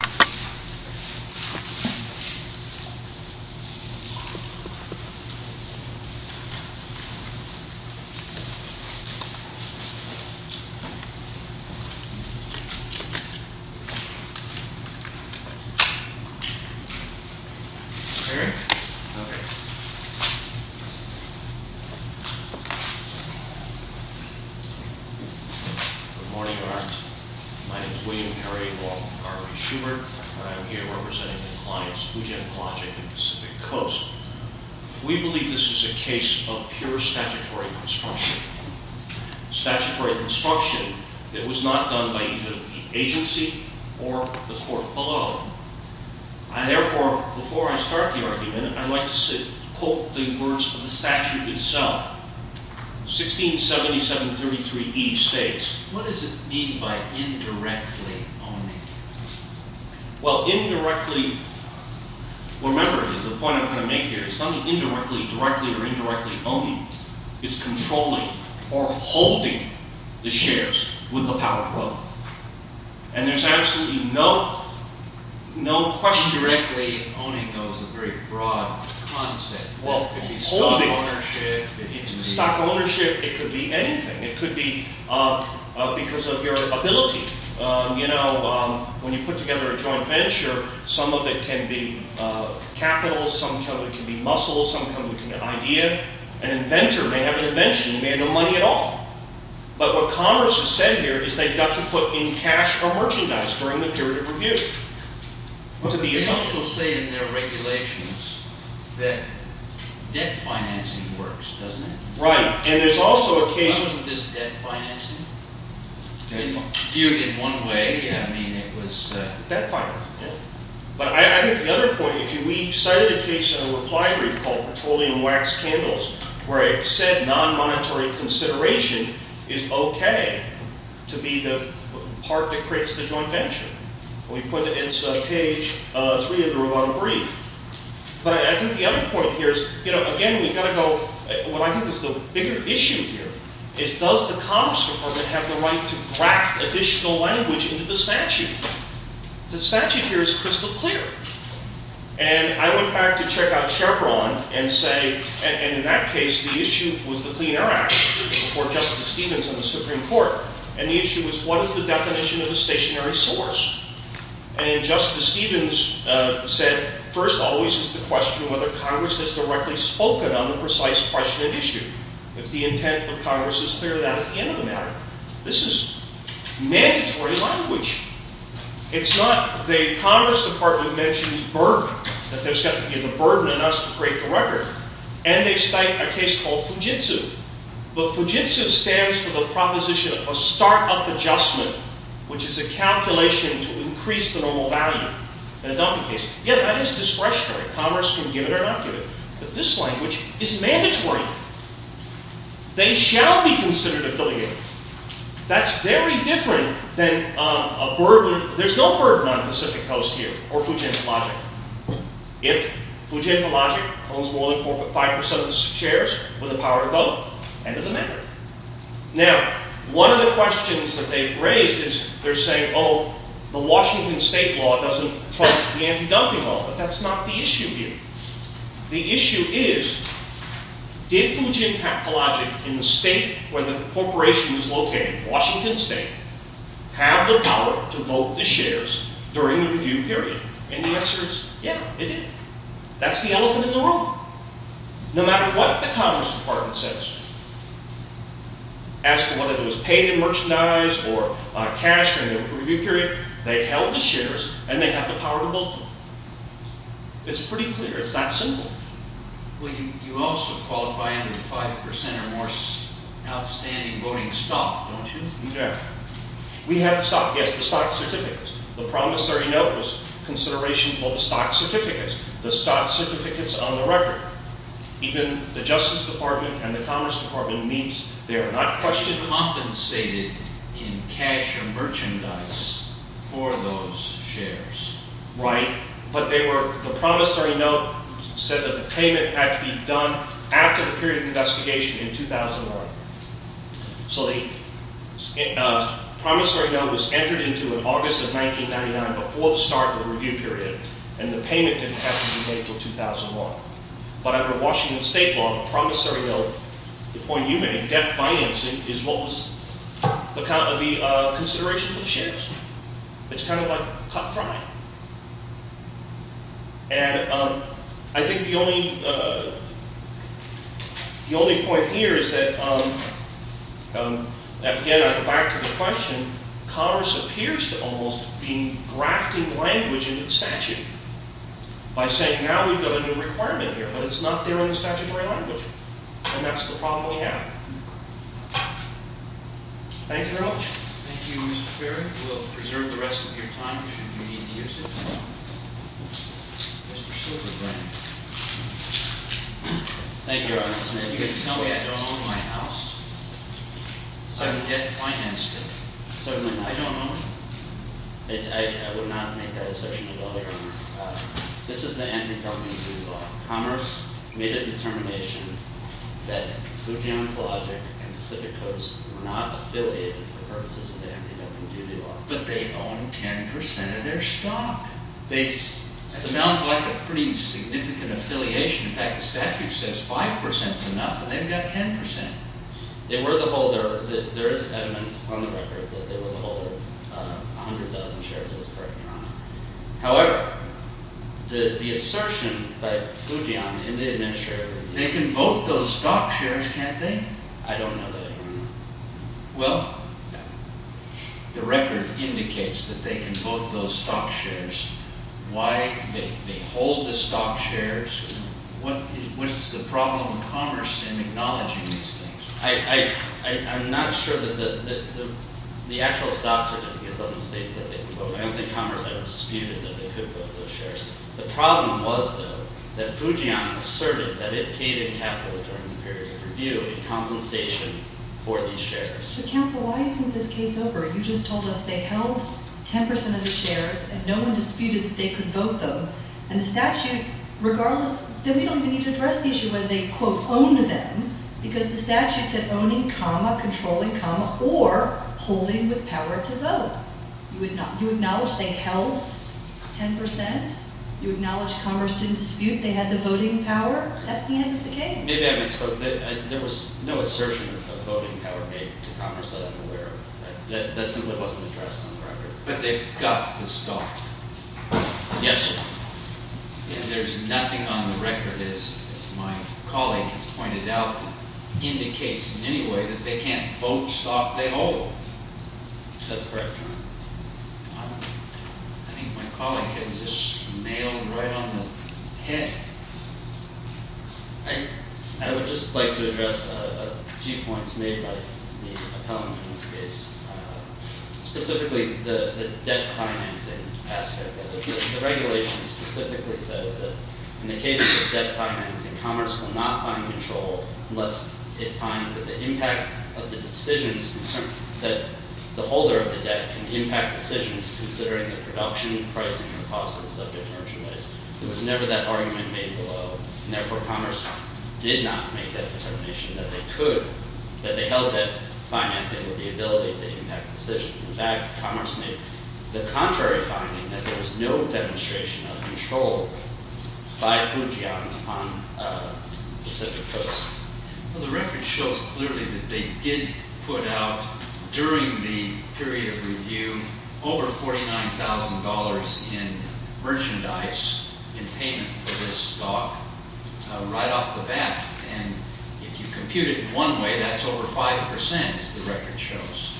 Please stand by. Good morning guards My name is William Perry, along with Garry Schubert, and I'm here representing the clients Fujianologic and Pacific Coast. We believe this is a case of pure statutory construction. Statutory construction that was not done by either the agency or the court below. I therefore, before I start the argument, I'd like to quote the words of the statute itself. 167733E states... What does it mean by indirectly owning? Well, indirectly... Remember, the point I'm trying to make here, it's not indirectly, directly, or indirectly owning. It's controlling, or holding, the shares with the power growth. And there's absolutely no question... Indirectly owning, though, is a very broad concept. Well, holding... Stock ownership... Stock ownership, it could be anything. It could be because of your ability. You know, when you put together a joint venture, some of it can be capital, some of it can be muscles, some of it can be an idea. An inventor may have an invention and may have no money at all. But what Congress has said here is they've got to put in cash or merchandise during the period of review. But they also say in their regulations that debt financing works, doesn't it? Right, and there's also a case... Why wasn't this debt financing? Debt financing... Viewed in one way, yeah, I mean, it was... Debt financing, yeah. But I think the other point, if we cited a case in a reply brief called Petroleum Wax Candles, where it said non-monetary consideration is okay to be the part that creates the joint venture. We put it in page 3 of the reply brief. But I think the other point here is, you know, again, we've got to go... What I think is the bigger issue here is does the Commerce Department have the right to graft additional language into the statute? The statute here is crystal clear. And I went back to check out Chevron and say... And in that case, the issue was the Clean Air Act before Justice Stevens and the Supreme Court. And the issue was what is the definition of a stationary source? And Justice Stevens said, first always is the question of whether Congress has directly spoken on the precise question and issue. If the intent of Congress is clear, that is the end of the matter. This is mandatory language. It's not... The Congress Department mentions burden, that there's got to be a burden on us to create the record. And they cite a case called Fujitsu. But Fujitsu stands for the proposition of a startup adjustment, which is a calculation to increase the normal value in a dumping case. Yeah, that is discretionary. Commerce can give it or not give it. But this language is mandatory. They shall be considered affiliated. That's very different than a burden... There's no burden on the Pacific Coast here or Fujita Logic. If Fujita Logic owns more than 5% of the shares with the power to vote, end of the matter. Now, one of the questions that they've raised is they're saying, oh, the Washington State law doesn't trust the anti-dumping law. But that's not the issue here. The issue is, did Fujita Logic in the state where the corporation is located, Washington State, have the power to vote the shares during the review period? And the answer is, yeah, they did. That's the elephant in the room. No matter what the Commerce Department says as to whether it was paid in merchandise or cash during the review period, they held the shares and they had the power to vote them. It's pretty clear. It's that simple. Well, you also qualify under the 5% or more outstanding voting stock, don't you? We have to stop. Yes, the stock certificates. The promissory note was consideration for the stock certificates, the stock certificates on the record. Even the Justice Department and the Commerce Department means they're not questioning... Compensated in cash or merchandise for those shares. Right, but they were... the promissory note said that the payment had to be done after the period of investigation in 2001. So the promissory note was entered into in August of 1999 before the start of the review period, and the payment didn't have to be made until 2001. But under Washington State law, the promissory note, the point you made, debt financing, is what was the consideration for the shares. It's kind of like cut crime. And I think the only point here is that, again I go back to the question, Commerce appears to almost be grafting language into the statute. By saying, now we've got a new requirement here, but it's not there in the statutory language. And that's the problem we have. Thank you very much. Thank you, Mr. Perry. We'll preserve the rest of your time if you need to use it. Thank you, Your Honor. Are you going to tell me I don't own my house? I'm debt financed. Certainly not. I don't own it. I would not make that assertion at all, Your Honor. This is the antediluvian duty law. Commerce made a determination that Foujian Cologic and Pacific Coast were not affiliated for the purposes of the antediluvian duty law. But they own 10% of their stock. That sounds like a pretty significant affiliation. In fact, the statute says 5% is enough, but they've got 10%. They were the holder. There is evidence on the record that they were the holder of 100,000 shares of this property, Your Honor. However, the assertion by Foujian in the administrative review… They can vote those stock shares, can't they? I don't know that, Your Honor. Well, the record indicates that they can vote those stock shares. Why? They hold the stock shares. What is the problem with commerce in acknowledging these things? I'm not sure that the actual stock certificate doesn't state that they can vote. I don't think commerce ever disputed that they could vote those shares. The problem was, though, that Foujian asserted that it paid in capital during the period of review in compensation for these shares. But, counsel, why isn't this case over? You just told us they held 10% of the shares and no one disputed that they could vote them. And the statute, regardless… Then we don't even need to address the issue whether they, quote, owned them, because the statute said owning, comma, controlling, comma, or holding with power to vote. You acknowledge they held 10%? You acknowledge commerce didn't dispute they had the voting power? That's the end of the case. Maybe I misspoke. There was no assertion of voting power made to commerce that I'm aware of. That simply wasn't addressed on the record. But they got the stock. Yes, Your Honor. And there's nothing on the record, as my colleague has pointed out, that indicates in any way that they can't vote stock they hold. That's correct, Your Honor. I don't know. I think my colleague has just nailed right on the head. I would just like to address a few points made by the appellant in this case. Specifically, the debt financing aspect of it. The regulation specifically says that in the case of debt financing, commerce will not find control unless it finds that the impact of the decisions that the holder of the debt can impact decisions considering the production, pricing, and cost of the subject merchandise. There was never that argument made below, and therefore commerce did not make that determination that they could, that they held that financing with the ability to impact decisions. In fact, commerce made the contrary finding that there was no demonstration of control by Fujian on the Pacific Coast. Well, the record shows clearly that they did put out during the period of review over $49,000 in merchandise in payment for this stock right off the bat. And if you compute it in one way, that's over 5%, as the record shows.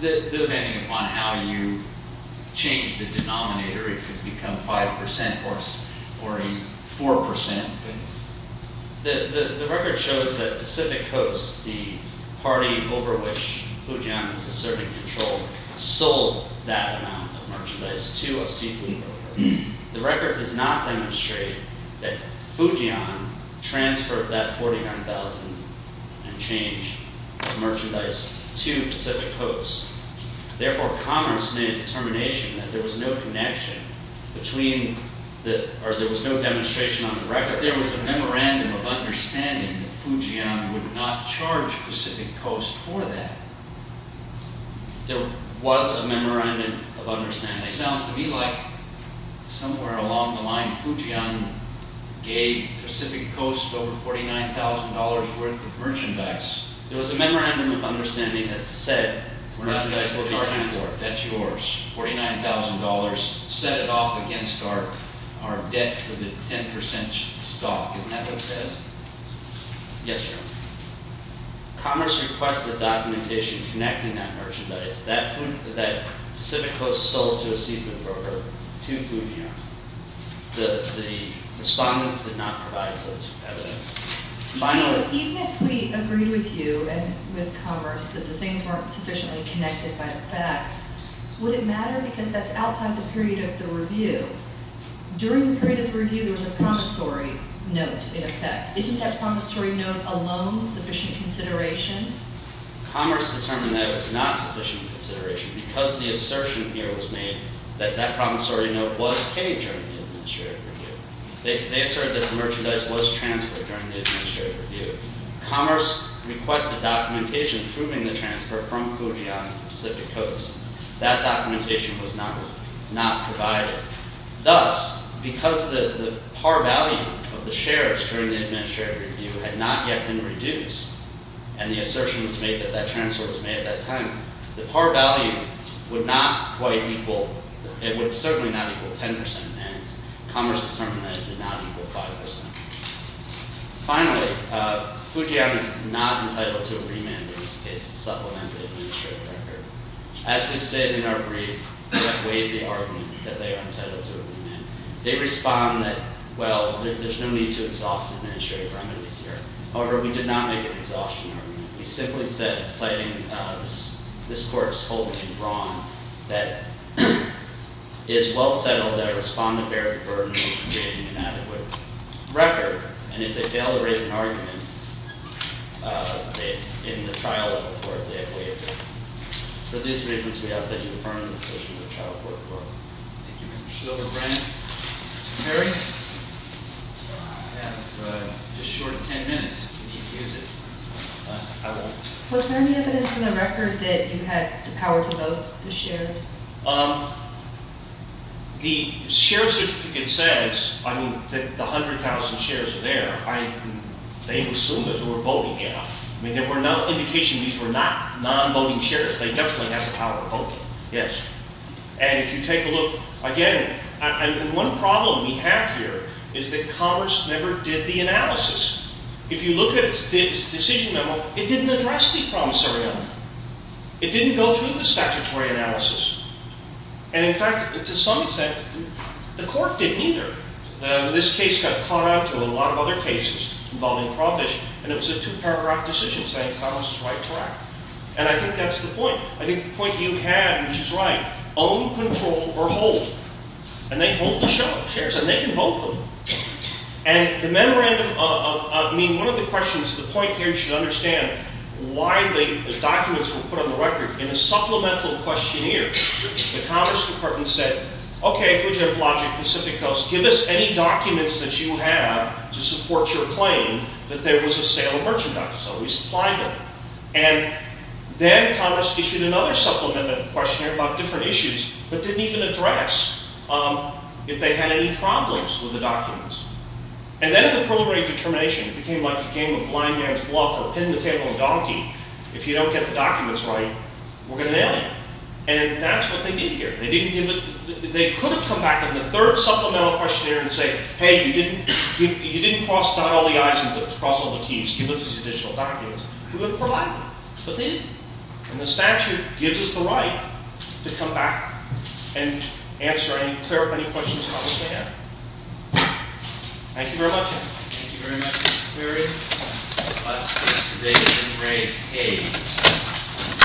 Depending upon how you change the denominator, it could become 5% or 4%. The record shows that Pacific Coast, the party over which Fujian is asserting control, sold that amount of merchandise to a seafood broker. The record does not demonstrate that Fujian transferred that $49,000 in change of merchandise to Pacific Coast. Therefore, commerce made a determination that there was no connection between, or there was no demonstration on the record. There was a memorandum of understanding that Fujian would not charge Pacific Coast for that. There was a memorandum of understanding. It sounds to me like somewhere along the line, Fujian gave Pacific Coast over $49,000 worth of merchandise. There was a memorandum of understanding that said, the merchandise will be transferred, that's yours. $49,000, set it off against our debt for the 10% stock. Isn't that what it says? Yes, sir. Commerce requested documentation connecting that merchandise that Pacific Coast sold to a seafood broker to Fujian. The respondents did not provide such evidence. Even if we agreed with you and with commerce that the things weren't sufficiently connected by the facts, would it matter because that's outside the period of the review? During the period of the review, there was a promissory note in effect. Isn't that promissory note alone sufficient consideration? Commerce determined that it was not sufficient consideration because the assertion here was made that that promissory note was paid during the administrative review. They asserted that the merchandise was transferred during the administrative review. Commerce requested documentation proving the transfer from Fujian to Pacific Coast. That documentation was not provided. Thus, because the par value of the shares during the administrative review had not yet been reduced, and the assertion was made that that transfer was made at that time, the par value would not quite equal, it would certainly not equal 10%, and commerce determined that it did not equal 5%. Finally, Fujian is not entitled to a remand in this case to supplement the administrative record. As we stated in our brief, we have waived the argument that they are entitled to a remand. They respond that, well, there's no need to exhaust administrative remedies here. However, we did not make an exhaustion argument. We simply said, citing this court's holding wrong, that it is well settled that a respondent bears the burden of creating an adequate record, and if they fail to raise an argument in the trial of the court, they have waived it. For these reasons, we ask that you confirm the decision of the Trial Court Court. Thank you, Mr. Silverbrand. Mr. Harris? I have just short of 10 minutes, if you need to use it. Was there any evidence in the record that you had the power to vote the shares? The share certificate says that the 100,000 shares are there. They assumed that they were voting it out. I mean, there were no indications these were not non-voting shares. They definitely have the power to vote, yes. And if you take a look, again, the one problem we have here is that Congress never did the analysis. If you look at the decision memo, it didn't address the promissory note. It didn't go through the statutory analysis. And, in fact, to some extent, the court didn't either. This case got caught up to a lot of other cases involving prohibition, and it was a two-paragraph decision saying Congress is right to act. And I think that's the point. I think the point you have, which is right, own, control, or hold. And they hold the shares, and they can vote them. And the memorandum of—I mean, one of the questions, the point here, you should understand, why the documents were put on the record. In the supplemental questionnaire, the Congress department said, okay, Fujitablogic, Pacific Coast, give us any documents that you have to support your claim that there was a sale of merchandise. So we supplied them. And then Congress issued another supplemental questionnaire about different issues but didn't even address if they had any problems with the documents. And then the preliminary determination became like a game of blind man's bluff or pin the tail on the donkey. If you don't get the documents right, we're going to nail you. And that's what they did here. They could have come back in the third supplemental questionnaire and say, hey, you didn't cross all the I's and cross all the T's. Give us these additional documents. We would have provided them, but they didn't. And the statute gives us the right to come back and answer any clarifying questions Congress may have. Thank you very much. Thank you very much, Larry. That's it for today. Have a great day.